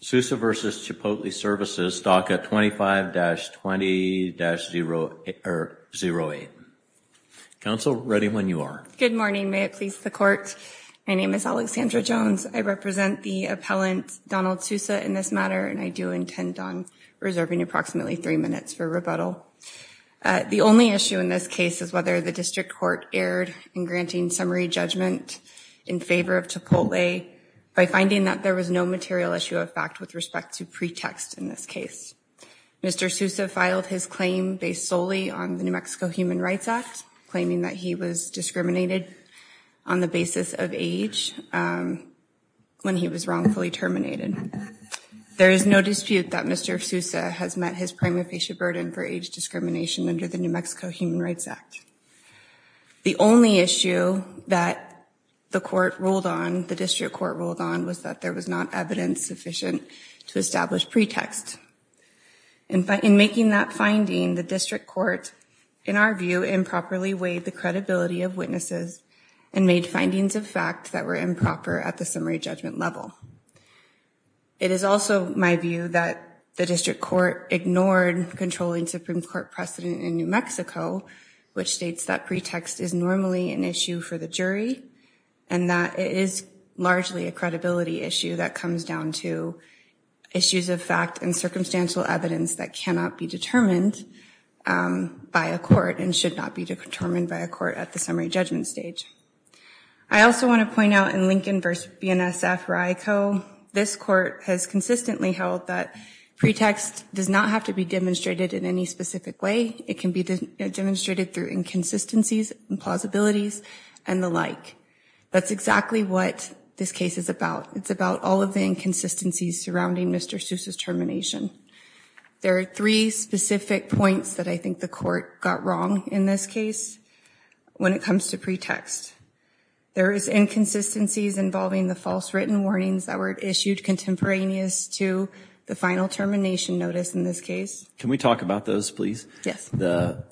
Sousa v. Chipotle Services, DACA 25-20-08. Counsel, ready when you are. Good morning, may it please the court. My name is Alexandra Jones. I represent the appellant Donald Sousa in this matter and I do intend on reserving approximately three minutes for rebuttal. The only issue in this case is whether the district court erred in granting summary judgment in favor of Chipotle by finding that there was no material issue of fact with respect to pretext in this case. Mr. Sousa filed his claim based solely on the New Mexico Human Rights Act, claiming that he was discriminated on the basis of age when he was wrongfully terminated. There is no dispute that Mr. Sousa has met his prima facie burden for age discrimination under the New Mexico Human Rights Act. The only issue that the court ruled on, the district court ruled on was that there was not evidence sufficient to establish pretext. In making that finding, the district court, in our view, improperly weighed the credibility of witnesses and made findings of fact that were improper at the summary judgment level. It is also my view that the district court ignored controlling Supreme Court precedent in New Mexico, which states that pretext is normally an issue for the jury and that it is largely a credibility issue that comes down to issues of fact and circumstantial evidence that cannot be determined by a court and should not be determined by a court at the summary judgment stage. I also want to point out in Lincoln v. BNSF-RICO, this court has consistently held that pretext does not have to be demonstrated in any specific way. It can be demonstrated through inconsistencies and plausibilities and the like. That's exactly what this case is about. It's about all of the inconsistencies surrounding Mr. Seuss's termination. There are three specific points that I think the court got wrong in this case when it comes to pretext. There is inconsistencies involving the false written warnings that were issued contemporaneous to the final termination notice in this case. Can we talk about those, please? Yes. The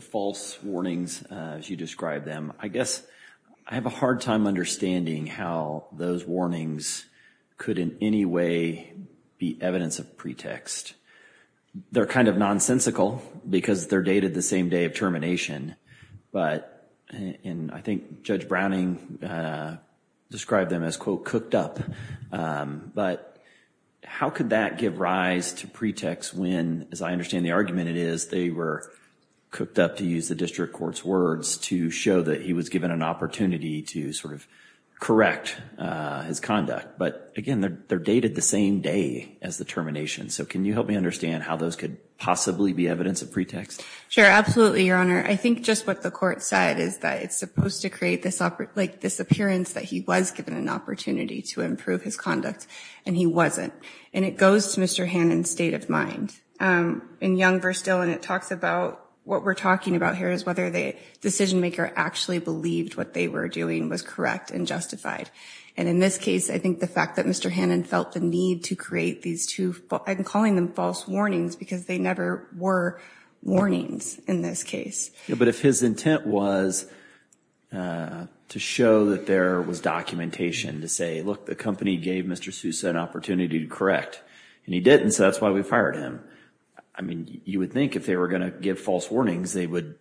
false warnings, as you described them, I guess I have a hard time understanding how those warnings could in any way be evidence of pretext. They're kind of nonsensical because they're dated the same day of termination, but, and I think Judge Browning described them as quote, cooked up, but how could that give rise to pretext when, as I understand the argument it is, they were cooked up to use the district court's words to show that he was given an opportunity to sort of correct his conduct. But again, they're dated the same day as the termination. So can you help me understand how those could possibly be evidence of pretext? Sure, absolutely, Your Honor. I think just what the court said is that it's supposed to create this, like this appearance that he was given an opportunity to improve his conduct and he wasn't. And it goes to Mr. Hannon's state of mind. In Young v. Stillen, it talks about, what we're talking about here is whether the decision maker actually believed what they were doing was correct and justified. And in this case, I think the fact that Mr. Hannon felt the need to create these two, I'm calling them false warnings because they never were warnings in this case. Yeah, but if his intent was to show that there was documentation to say, look, the company gave Mr. Sousa an opportunity to correct and he didn't, so that's why we fired him. I mean, you would think if they were gonna give false warnings, they would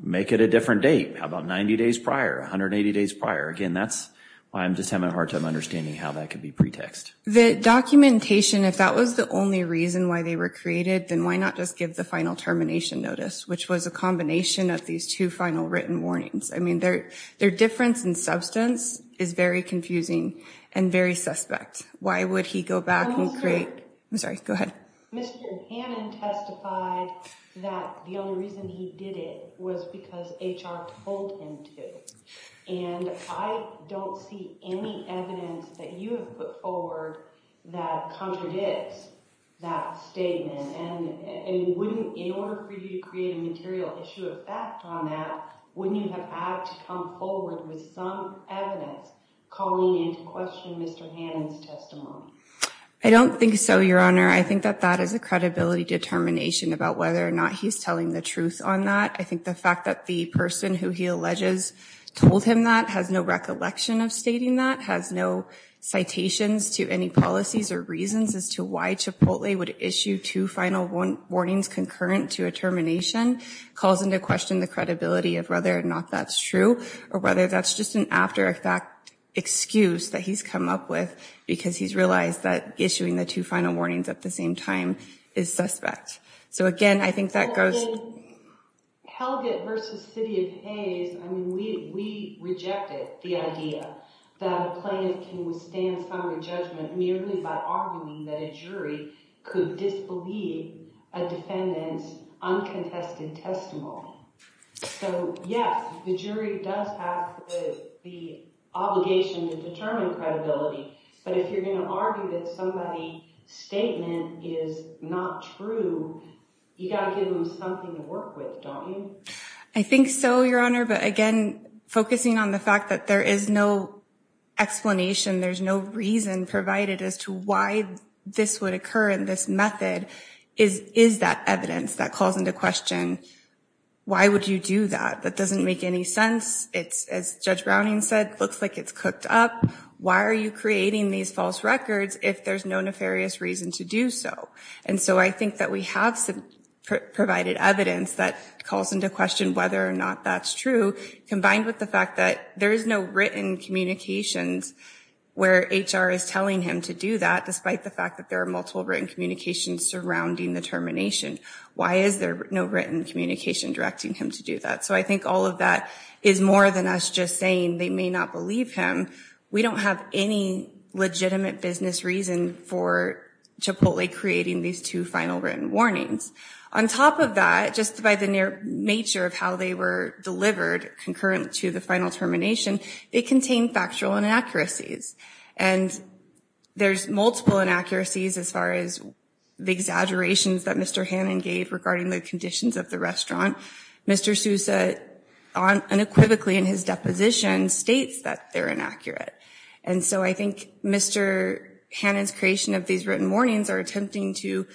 make it a different date. How about 90 days prior, 180 days prior? Again, that's why I'm just having a hard time understanding how that could be pretext. The documentation, if that was the only reason why they were created, then why not just give the final termination notice, which was a combination of these two final written warnings. I mean, their difference in substance is very confusing and very suspect. Why would he go back and create, I'm sorry, go ahead. Mr. Hannon testified that the only reason he did it was because HR told him to. And I don't see any evidence that you have put forward that contradicts that statement. And in order for you to create a material issue of fact on that, wouldn't you have had to come forward with some evidence calling into question Mr. Hannon's testimony? I don't think so, Your Honor. I think that that is a credibility determination about whether or not he's telling the truth on that. I think the fact that the person who he alleges told him that has no recollection of stating that, has no citations to any policies or reasons as to why Chipotle would issue two final warnings concurrent to a termination, calls into question the credibility of whether or not that's true or whether that's just an after-effect excuse that he's come up with because he's realized that issuing the two final warnings at the same time is suspect. So again, I think that goes. Helgitt versus City of Hays, I mean, we rejected the idea that a plaintiff can withstand summary judgment merely by arguing that a jury could disbelieve a defendant's uncontested testimony. So yes, the jury does have the obligation to determine credibility, but if you're gonna argue that somebody's statement is not true, you gotta give them something to work with, don't you? I think so, Your Honor, but again, focusing on the fact that there is no explanation, there's no reason provided as to why this would occur in this method, is that evidence that calls into question why would you do that? That doesn't make any sense. It's, as Judge Browning said, looks like it's cooked up. Why are you creating these false records if there's no nefarious reason to do so? And so I think that we have some provided evidence that calls into question whether or not that's true combined with the fact that there is no written communications where HR is telling him to do that despite the fact that there are multiple written communications surrounding the termination. Why is there no written communication directing him to do that? So I think all of that is more than us just saying they may not believe him. We don't have any legitimate business reason for Chipotle creating these two final written warnings. On top of that, just by the nature of how they were delivered concurrent to the final termination, it contained factual inaccuracies. And there's multiple inaccuracies as far as the exaggerations that Mr. Hannon gave regarding the conditions of the restaurant. Mr. Sousa unequivocally in his deposition states that they're inaccurate. And so I think Mr. Hannon's creation of these written warnings are attempting to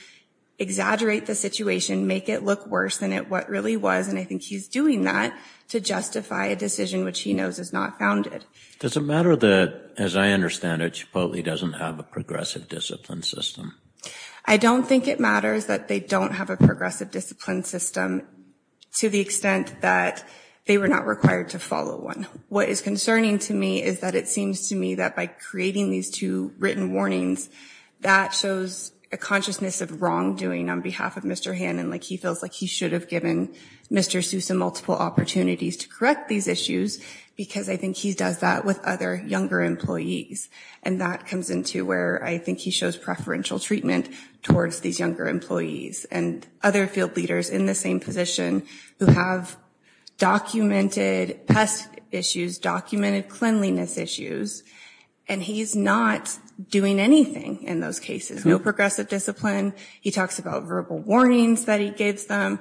exaggerate the situation, make it look worse than it really was, and I think he's doing that to justify a decision which he knows is not founded. Does it matter that, as I understand it, Chipotle doesn't have a progressive discipline system? I don't think it matters that they don't have a progressive discipline system to the extent that they were not required to follow one. What is concerning to me is that it seems to me that by creating these two written warnings, that shows a consciousness of wrongdoing on behalf of Mr. Hannon, like he feels like he should have given Mr. Sousa multiple opportunities to correct these issues, because I think he does that with other younger employees. And that comes into where I think he shows preferential treatment towards these younger employees and other field leaders in the same position who have documented pest issues, documented cleanliness issues, and he's not doing anything in those cases, no progressive discipline. He talks about verbal warnings that he gives them,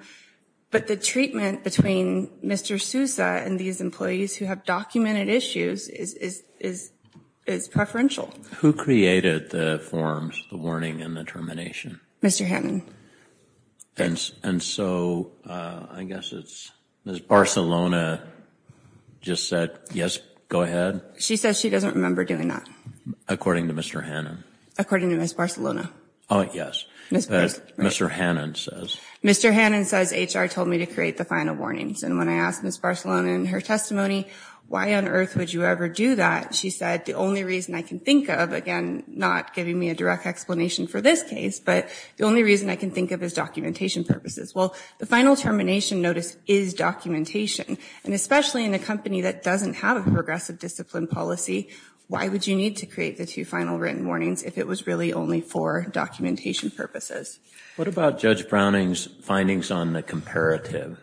but the treatment between Mr. Sousa and these employees who have documented issues is preferential. Who created the forms, the warning and the termination? Mr. Hannon. And so, I guess it's Ms. Barcelona just said, yes, go ahead. She says she doesn't remember doing that. According to Mr. Hannon. According to Ms. Barcelona. Oh, yes, as Mr. Hannon says. Mr. Hannon says HR told me to create the final warnings, and when I asked Ms. Barcelona in her testimony, why on earth would you ever do that, she said, the only reason I can think of, again, not giving me a direct explanation for this case, but the only reason I can think of is documentation purposes. Well, the final termination notice is documentation, and especially in a company that doesn't have a progressive discipline policy, why would you need to create the two final written warnings if it was really only for documentation purposes? What about Judge Browning's findings on the comparative?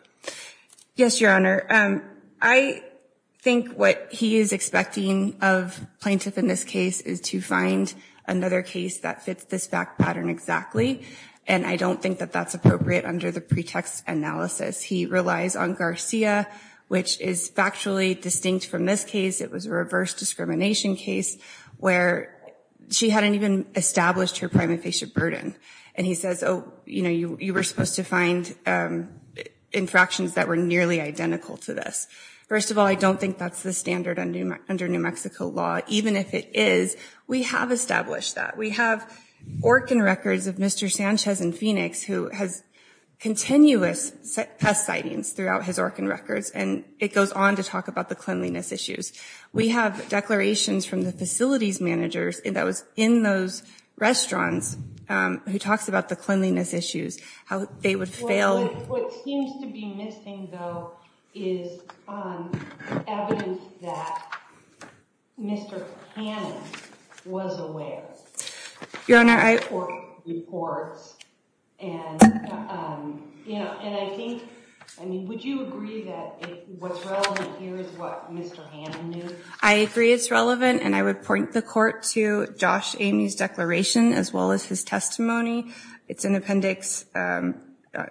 Yes, Your Honor. I think what he is expecting of plaintiff in this case is to find another case that fits this fact pattern exactly, and I don't think that that's appropriate under the pretext analysis. He relies on Garcia, which is factually distinct from this case. It was a reverse discrimination case where she hadn't even established her prima facie burden, and he says, oh, you were supposed to find infractions that were nearly identical to this. First of all, I don't think that's the standard under New Mexico law, even if it is, we have established that. We have Orkin records of Mr. Sanchez in Phoenix who has continuous pest sightings throughout his Orkin records, and it goes on to talk about the cleanliness issues. We have declarations from the facilities managers that was in those restaurants who talks about the cleanliness issues, how they would fail. What seems to be missing, though, is evidence that Mr. Hannon was aware. Your Honor, I... Or reports, and I think, I mean, would you agree that what's relevant here is what Mr. Hannon knew? I agree it's relevant, and I would point the court to Josh Amey's declaration as well as his testimony. It's in appendix,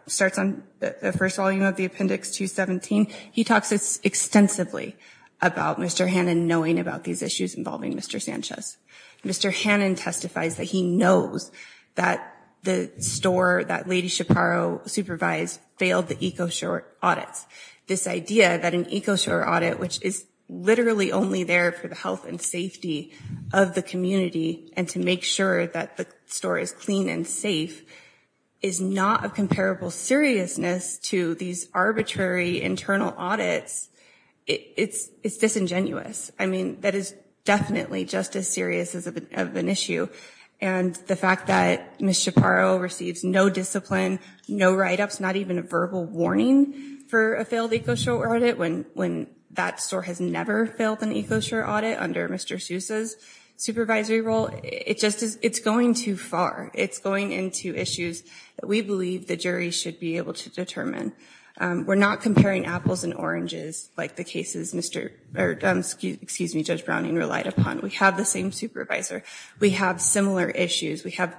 starts on the first volume of the appendix 217. He talks extensively about Mr. Hannon knowing about these issues involving Mr. Sanchez. Mr. Hannon testifies that he knows that the store that Lady Shaparo supervised failed the EcoShore audits. This idea that an EcoShore audit, which is literally only there for the health and safety of the community, and to make sure that the store is clean and safe, is not of comparable seriousness to these arbitrary internal audits, it's disingenuous. I mean, that is definitely just as serious of an issue, and the fact that Ms. Shaparo receives no discipline, no write-ups, not even a verbal warning for a failed EcoShore audit, when that store has never failed an EcoShore audit under Mr. Souza's supervisory role, it's going too far. It's going into issues that we believe the jury should be able to determine. We're not comparing apples and oranges like the cases Judge Browning relied upon. We have the same supervisor. We have similar issues. We have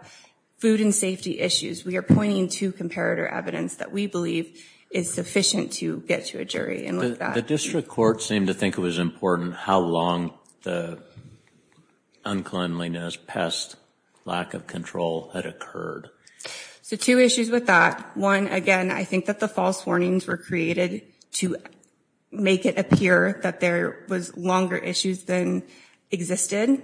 food and safety issues. We are pointing to comparator evidence that we believe is sufficient to get to a jury. The district court seemed to think it was important how long the unkindliness, pest, lack of control had occurred. So two issues with that. One, again, I think that the false warnings were created to make it appear that there was longer issues than existed.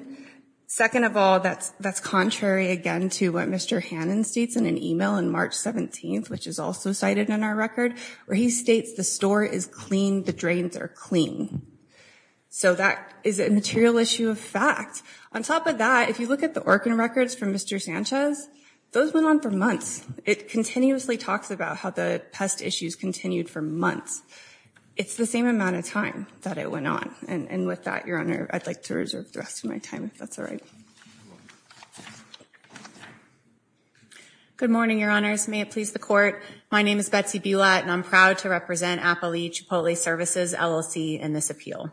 Second of all, that's contrary again to what Mr. Hannon states in an email in March 17th, which is also cited in our record, where he states the store is clean, the drains are clean. So that is a material issue of fact. On top of that, if you look at the organ records from Mr. Sanchez, those went on for months. It continuously talks about how the pest issues continued for months. It's the same amount of time that it went on. And with that, Your Honor, I'd like to reserve the rest of my time, if that's all right. Good morning, Your Honors. May it please the court. My name is Betsy Bulat, and I'm proud to represent Appali Chipotle Services LLC in this appeal.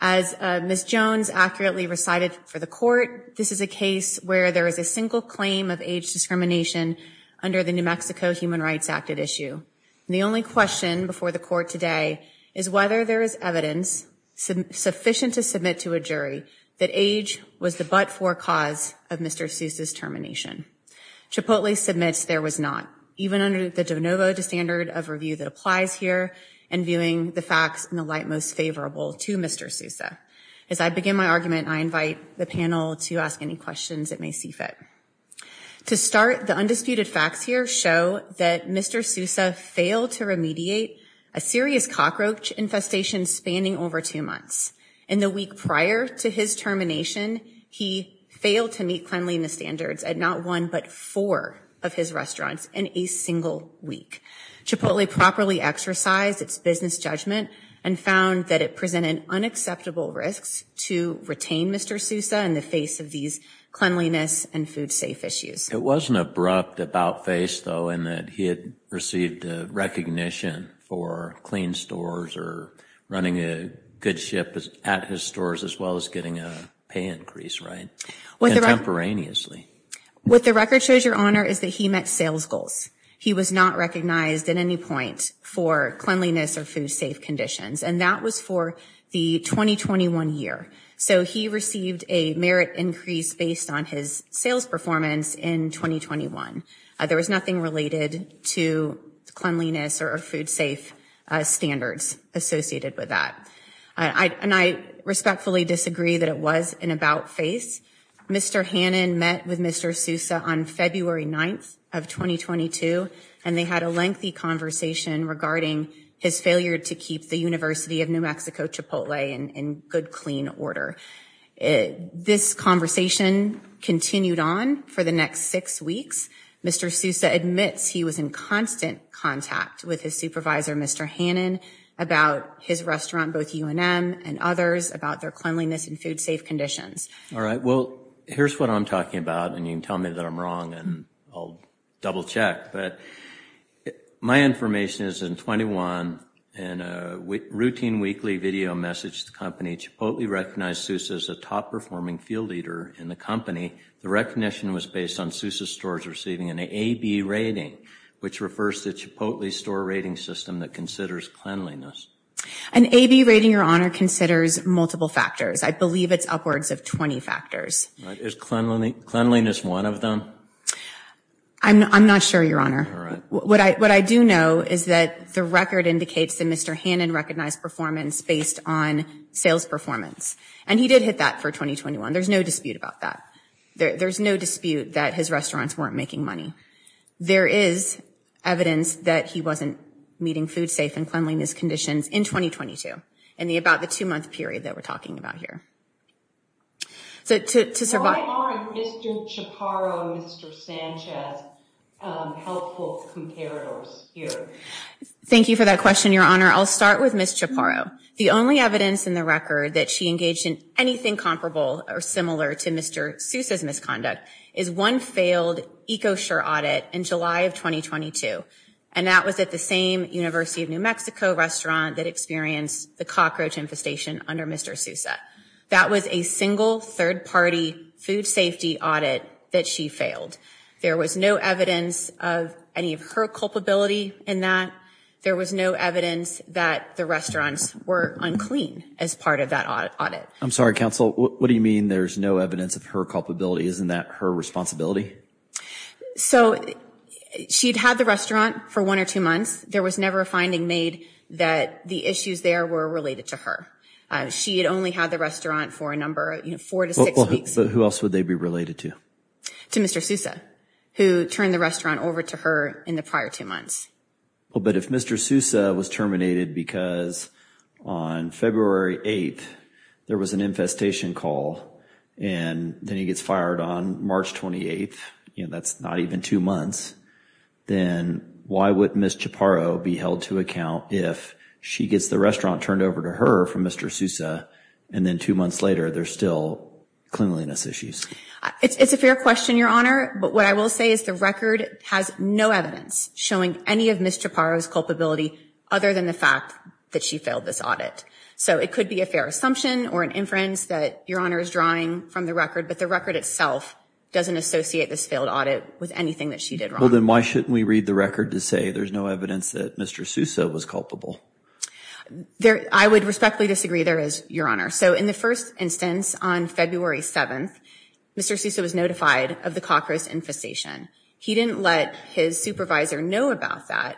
As Ms. Jones accurately recited for the court, this is a case where there is a single claim of age discrimination under the New Mexico Human Rights Act at issue. The only question before the court today is whether there is evidence sufficient to submit to a jury that age was the but-for cause of Mr. Seuss's termination. Chipotle submits there was not. Even under the de novo, the standard of review that applies here, and viewing the facts in the light most favorable to Mr. Seuss. As I begin my argument, I invite the panel to ask any questions it may see fit. To start, the undisputed facts here show that Mr. Seuss failed to remediate a serious cockroach infestation spanning over two months. In the week prior to his termination, he failed to meet cleanliness standards at not one but four of his restaurants in a single week. Chipotle properly exercised its business judgment and found that it presented unacceptable risks to retain Mr. Seuss in the face of these cleanliness and food safe issues. It wasn't abrupt about face, though, in that he had received recognition for clean stores or running a good ship at his stores as well as getting a pay increase, right? Contemporaneously. What the record shows, Your Honor, is that he met sales goals. He was not recognized at any point for cleanliness or food safe conditions, and that was for the 2021 year. So he received a merit increase based on his sales performance in 2021. There was nothing related to cleanliness or food safe standards associated with that. And I respectfully disagree that it was an about face. Mr. Hannon met with Mr. Seuss on February 9th of 2022, and they had a lengthy conversation regarding his failure to keep the University of New Mexico Chipotle in good, clean order. This conversation continued on for the next six weeks. Mr. Seuss admits he was in constant contact with his supervisor, Mr. Hannon, about his restaurant, both UNM and others, about their cleanliness and food safe conditions. All right, well, here's what I'm talking about, and you can tell me that I'm wrong, and I'll double check, but my information is in 21, in a routine weekly video message to the company, Chipotle recognized Seuss as a top performing field leader in the company. The recognition was based on Seuss' stores receiving an AB rating, which refers to Chipotle's store rating system that considers cleanliness. An AB rating, Your Honor, considers multiple factors. I believe it's upwards of 20 factors. Is cleanliness one of them? I'm not sure, Your Honor. What I do know is that the record indicates that Mr. Hannon recognized performance based on sales performance, and he did hit that for 2021. There's no dispute about that. There's no dispute that his restaurants weren't making money. There is evidence that he wasn't meeting food safe and cleanliness conditions in 2022, in about the two-month period that we're talking about here. So to survive- Why aren't Mr. Chaparro and Mr. Sanchez helpful comparators here? Thank you for that question, Your Honor. I'll start with Ms. Chaparro. The only evidence in the record that she engaged in anything comparable or similar to Mr. Seuss' misconduct is one failed EcoSure audit in July of 2022, and that was at the same University of New Mexico restaurant that experienced the cockroach infestation under Mr. Seuss. That was a single third-party food safety audit that she failed. There was no evidence of any of her culpability in that. There was no evidence that the restaurants were unclean as part of that audit. I'm sorry, counsel. What do you mean there's no evidence of her culpability? Isn't that her responsibility? So she'd had the restaurant for one or two months. There was never a finding made that the issues there were related to her. She had only had the restaurant for a number of, you know, four to six weeks. But who else would they be related to? To Mr. Seuss, who turned the restaurant over to her in the prior two months. Well, but if Mr. Seuss was terminated because on February 8th, there was an infestation call and then he gets fired on March 28th, you know, that's not even two months, then why would Ms. Chaparro be held to account if she gets the restaurant turned over to her from Mr. Seuss and then two months later, there's still cleanliness issues? It's a fair question, Your Honor. But what I will say is the record has no evidence showing any of Ms. Chaparro's culpability other than the fact that she failed this audit. So it could be a fair assumption or an inference that Your Honor is drawing from the record, but the record itself doesn't associate this failed audit with anything that she did wrong. Well, then why shouldn't we read the record to say there's no evidence that Mr. Seuss was culpable? I would respectfully disagree there is, Your Honor. So in the first instance on February 7th, Mr. Seuss was notified of the Cockroach infestation. He didn't let his supervisor know about that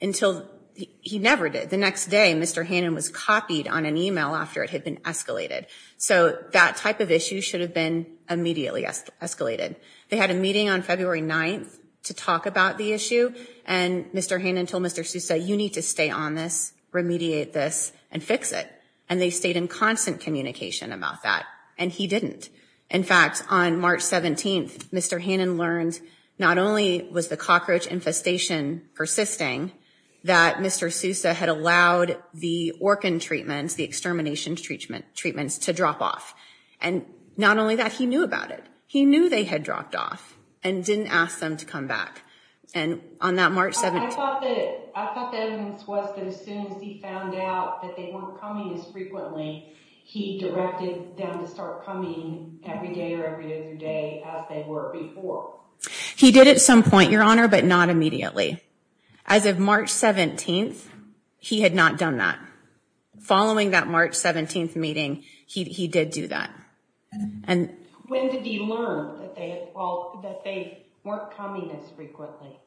until he never did. The next day, Mr. Hannon was copied on an email after it had been escalated. So that type of issue should have been immediately escalated. They had a meeting on February 9th to talk about the issue and Mr. Hannon told Mr. Seuss you need to stay on this, remediate this and fix it. And they stayed in constant communication about that and he didn't. In fact, on March 17th, Mr. Hannon learned not only was the Cockroach infestation persisting, that Mr. Seuss had allowed the Orkin treatments, the extermination treatments to drop off. And not only that, he knew about it. He knew they had dropped off and didn't ask them to come back. And on that March 17th... I thought that evidence was that as soon as he found out that they weren't coming as frequently, he directed them to start coming every day or every other day as they were before. He did at some point, Your Honor, but not immediately. As of March 17th, he had not done that. Following that March 17th meeting, he did do that. And... When did he learn that they weren't coming as frequently?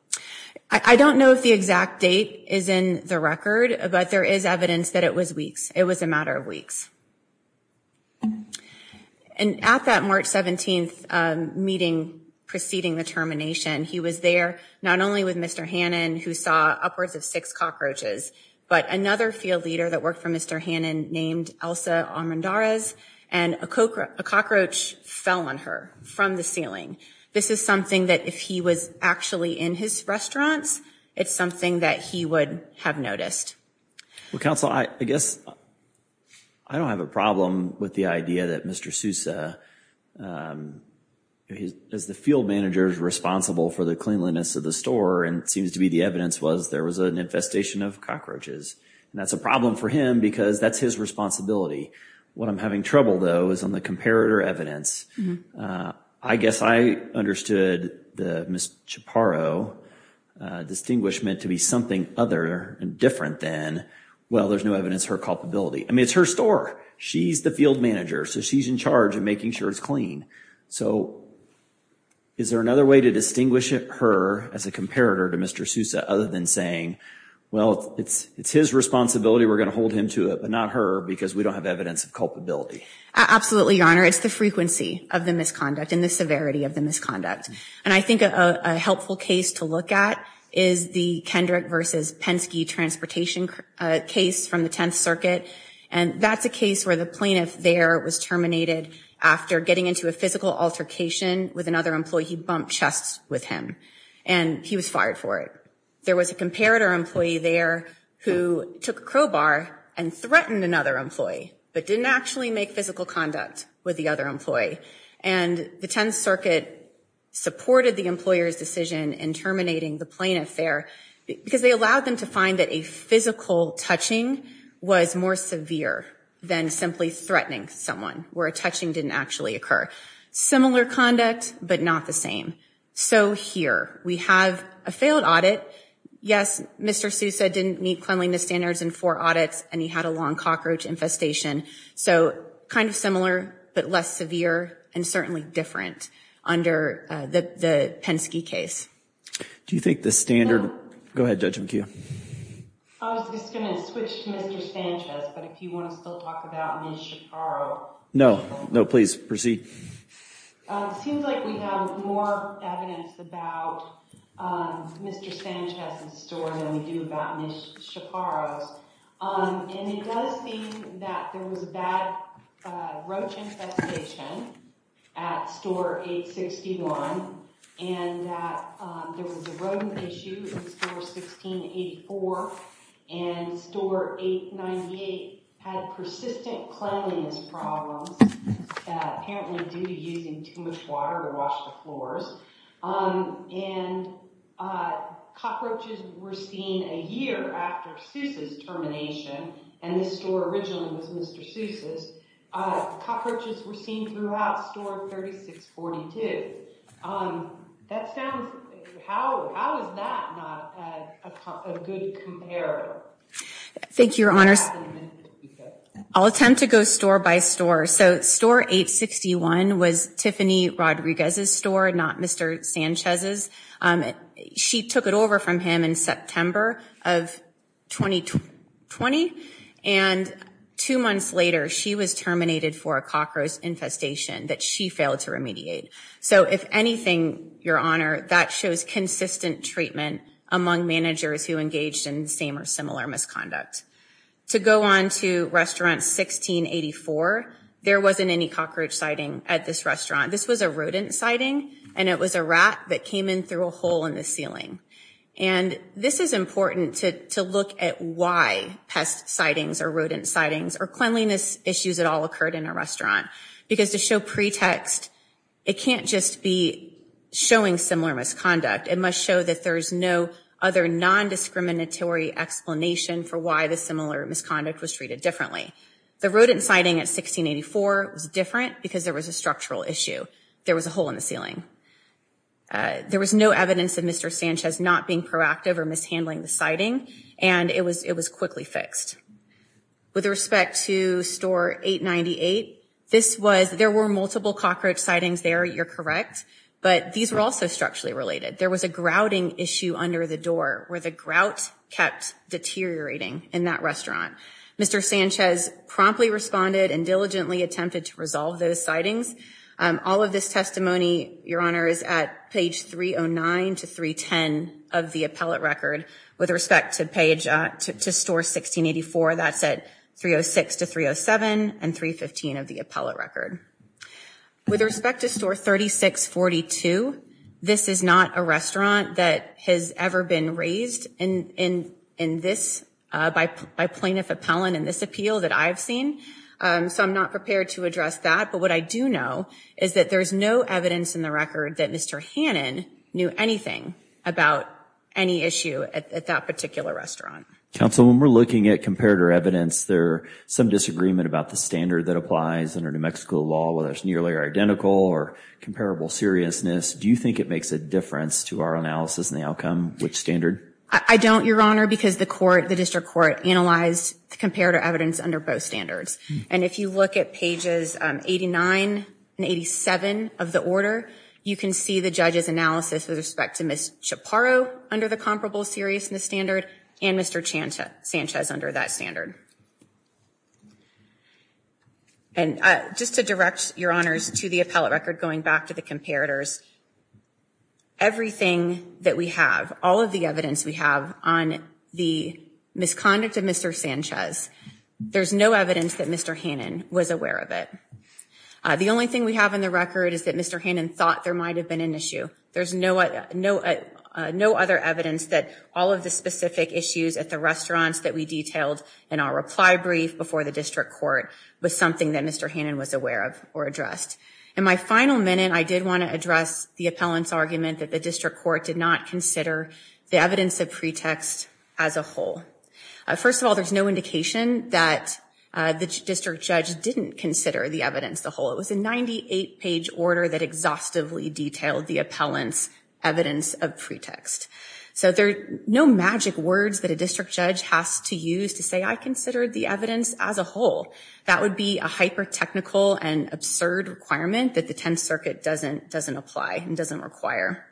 I don't know if the exact date is in the record, but there is evidence that it was weeks. It was a matter of weeks. And at that March 17th meeting preceding the termination, he was there not only with Mr. Hannon, who saw upwards of six cockroaches, but another field leader that worked for Mr. Hannon named Elsa Armendariz, and a cockroach fell on her from the ceiling. This is something that if he was actually in his restaurants, it's something that he would have noticed. Well, Counsel, I guess I don't have a problem with the idea that Mr. Sousa, as the field manager's responsible for the cleanliness of the store, and it seems to be the evidence was there was an infestation of cockroaches. And that's a problem for him because that's his responsibility. What I'm having trouble, though, is on the comparator evidence. I guess I understood the Ms. Chaparro distinguishment to be something other and different than, well, there's no evidence of her culpability. I mean, it's her store. She's the field manager, so she's in charge of making sure it's clean. So is there another way to distinguish her as a comparator to Mr. Sousa other than saying, well, it's his responsibility, we're gonna hold him to it, but not her because we don't have evidence of culpability? Absolutely, Your Honor. It's the frequency of the misconduct and the severity of the misconduct. And I think a helpful case to look at is the Kendrick versus Penske transportation case from the 10th Circuit. And that's a case where the plaintiff there was terminated after getting into a physical altercation with another employee. He bumped chests with him and he was fired for it. There was a comparator employee there who took a crowbar and threatened another employee, but didn't actually make physical conduct with the other employee. And the 10th Circuit supported the employer's decision in terminating the plaintiff there because they allowed them to find that a physical touching was more severe than simply threatening someone where a touching didn't actually occur. Similar conduct, but not the same. So here, we have a failed audit. Yes, Mr. Sousa didn't meet cleanliness standards in four audits and he had a long cockroach infestation. So kind of similar, but less severe and certainly different under the Penske case. Do you think the standard? Go ahead, Judge McHugh. I was just gonna switch to Mr. Sanchez, but if you wanna still talk about Ms. Shaparro. No, no, please proceed. Seems like we have more evidence about Mr. Sanchez's story than we do about Ms. Shaparro's. And it does seem that there was a bad roach infestation at store 861 and that there was a rodent issue in store 1684 and store 898 had persistent cleanliness problems that apparently due to using too much water to wash the floors. And cockroaches were seen a year after Sousa's termination and this store originally was Mr. Sousa's. Cockroaches were seen throughout store 3642. That sounds, how is that not a good comparator? Thank you, your honors. I'll attempt to go store by store. So store 861 was Tiffany Rodriguez's store, not Mr. Sanchez's. She took it over from him in September of 2020 and two months later she was terminated for a cockroach infestation that she failed to remediate. So if anything, your honor, that shows consistent treatment among managers who engaged in the same or similar misconduct. To go on to restaurant 1684, there wasn't any cockroach sighting at this restaurant. This was a rodent sighting and it was a rat that came in through a hole in the ceiling. And this is important to look at why pest sightings or rodent sightings or cleanliness issues at all occurred in a restaurant. Because to show pretext, it can't just be showing similar misconduct. It must show that there's no other non-discriminatory explanation for why the similar misconduct was treated differently. The rodent sighting at 1684 was different because there was a structural issue. There was a hole in the ceiling. There was no evidence of Mr. Sanchez not being proactive or mishandling the sighting and it was quickly fixed. With respect to store 898, this was, there were multiple cockroach sightings there, you're correct, but these were also structurally related. There was a grouting issue under the door where the grout kept deteriorating in that restaurant. Mr. Sanchez promptly responded and diligently attempted to resolve those sightings. All of this testimony, Your Honor, is at page 309 to 310 of the appellate record. With respect to page, to store 1684, that's at 306 to 307 and 315 of the appellate record. With respect to store 3642, this is not a restaurant that has ever been raised in this, by plaintiff appellant in this appeal that I've seen, so I'm not prepared to address that. But what I do know is that there's no evidence in the record that Mr. Hannon knew anything about any issue at that particular restaurant. Counsel, when we're looking at comparator evidence, there's some disagreement about the standard that applies under New Mexico law, whether it's nearly identical or comparable seriousness. Do you think it makes a difference to our analysis and the outcome, which standard? I don't, Your Honor, because the court, the district court analyzed the comparator evidence under both standards. And if you look at pages 89 and 87 of the order, you can see the judge's analysis with respect to Ms. Chaparro under the comparable seriousness standard and Mr. Sanchez under that standard. And just to direct Your Honors to the appellate record, going back to the comparators, everything that we have, all of the evidence we have on the misconduct of Mr. Sanchez, there's no evidence that Mr. Hannon was aware of it. The only thing we have in the record is that Mr. Hannon thought there might have been an issue. There's no other evidence that all of the specific issues at the restaurants that we detailed in our reply brief before the district court was something that Mr. Hannon was aware of or addressed. In my final minute, I did want to address the appellant's argument that the district court did not consider the evidence of pretext as a whole. First of all, there's no indication that the district judge didn't consider the evidence the whole. It was a 98-page order that exhaustively detailed the appellant's evidence of pretext. So there are no magic words that a district judge has to use to say, I considered the evidence as a whole. That would be a hyper-technical and absurd requirement that the Tenth Circuit doesn't apply and doesn't require.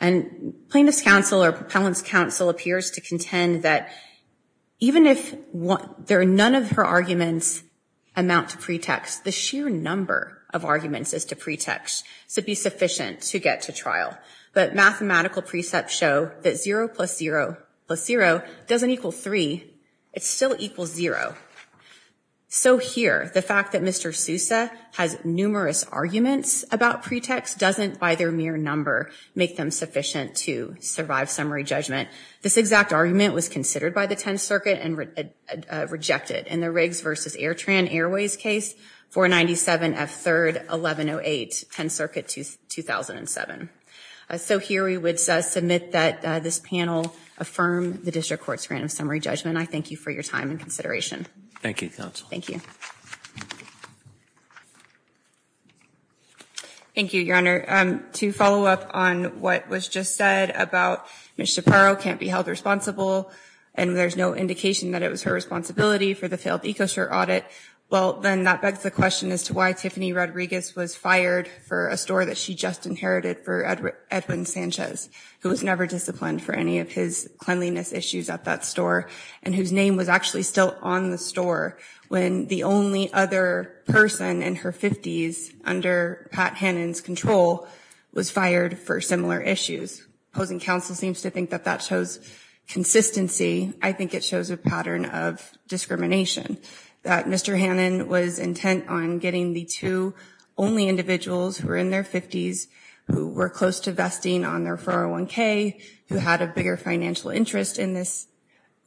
And plaintiff's counsel or appellant's counsel appears to contend that even if none of her arguments amount to pretext, the sheer number of arguments is to pretext to be sufficient to get to trial. But mathematical precepts show that zero plus zero plus zero doesn't equal three. It still equals zero. So here, the fact that Mr. Sousa has numerous arguments about pretext doesn't, by their mere number, make them sufficient to survive summary judgment. This exact argument was considered by the Tenth Circuit and rejected in the Riggs versus Airtran Airways case, 497F3-1108, Tenth Circuit, 2007. So here, we would submit that this panel affirm the district court's random summary judgment. I thank you for your time and consideration. Thank you, counsel. Thank you. Thank you, Your Honor. To follow up on what was just said about Ms. Shaparo can't be held responsible and there's no indication that it was her responsibility for the failed EcoShirt audit, well, then that begs the question as to why Tiffany Rodriguez was fired for a store that she just inherited for Edwin Sanchez, who was never disciplined for any of his cleanliness issues at that store and whose name was actually still on the store when the only other person in her 50s under Pat Hannon's control was fired for similar issues, opposing counsel seems to think that that shows consistency. I think it shows a pattern of discrimination that Mr. Hannon was intent on getting the two only individuals who were in their 50s who were close to vesting on their 401k, who had a bigger financial interest in this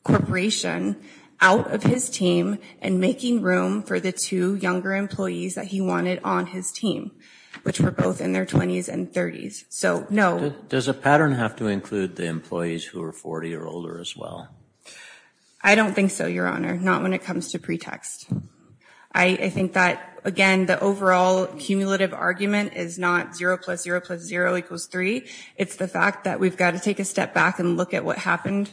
corporation out of his team and making room for the two younger employees that he wanted on his team, which were both in their 20s and 30s. So, no. Does a pattern have to include the employees who are 40 or older as well? I don't think so, Your Honor, not when it comes to pretext. I think that, again, the overall cumulative argument is not zero plus zero plus zero equals three, it's the fact that we've got to take a step back and look at what happened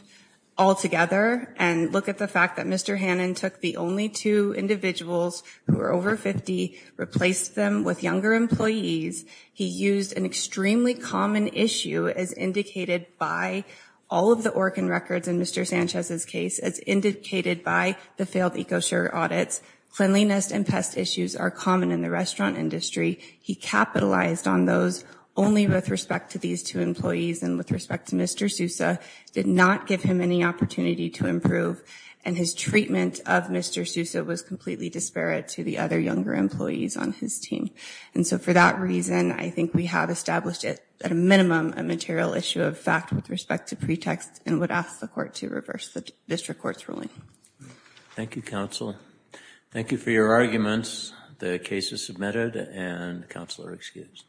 altogether and look at the fact that Mr. Hannon took the only two individuals who were over 50, replaced them with younger employees, he used an extremely common issue as indicated by all of the organ records in Mr. Sanchez's case, as indicated by the failed EcoSure audits, cleanliness and pest issues are common in the restaurant industry, he capitalized on those only with respect to these two employees and with respect to Mr. Sousa, did not give him any opportunity to improve and his treatment of Mr. Sousa was completely disparate to the other younger employees on his team. And so for that reason, I think we have established at a minimum a material issue of fact with respect to pretext and would ask the court to reverse the district court's ruling. Thank you, counsel. Thank you for your arguments. The case is submitted and counsel are excused.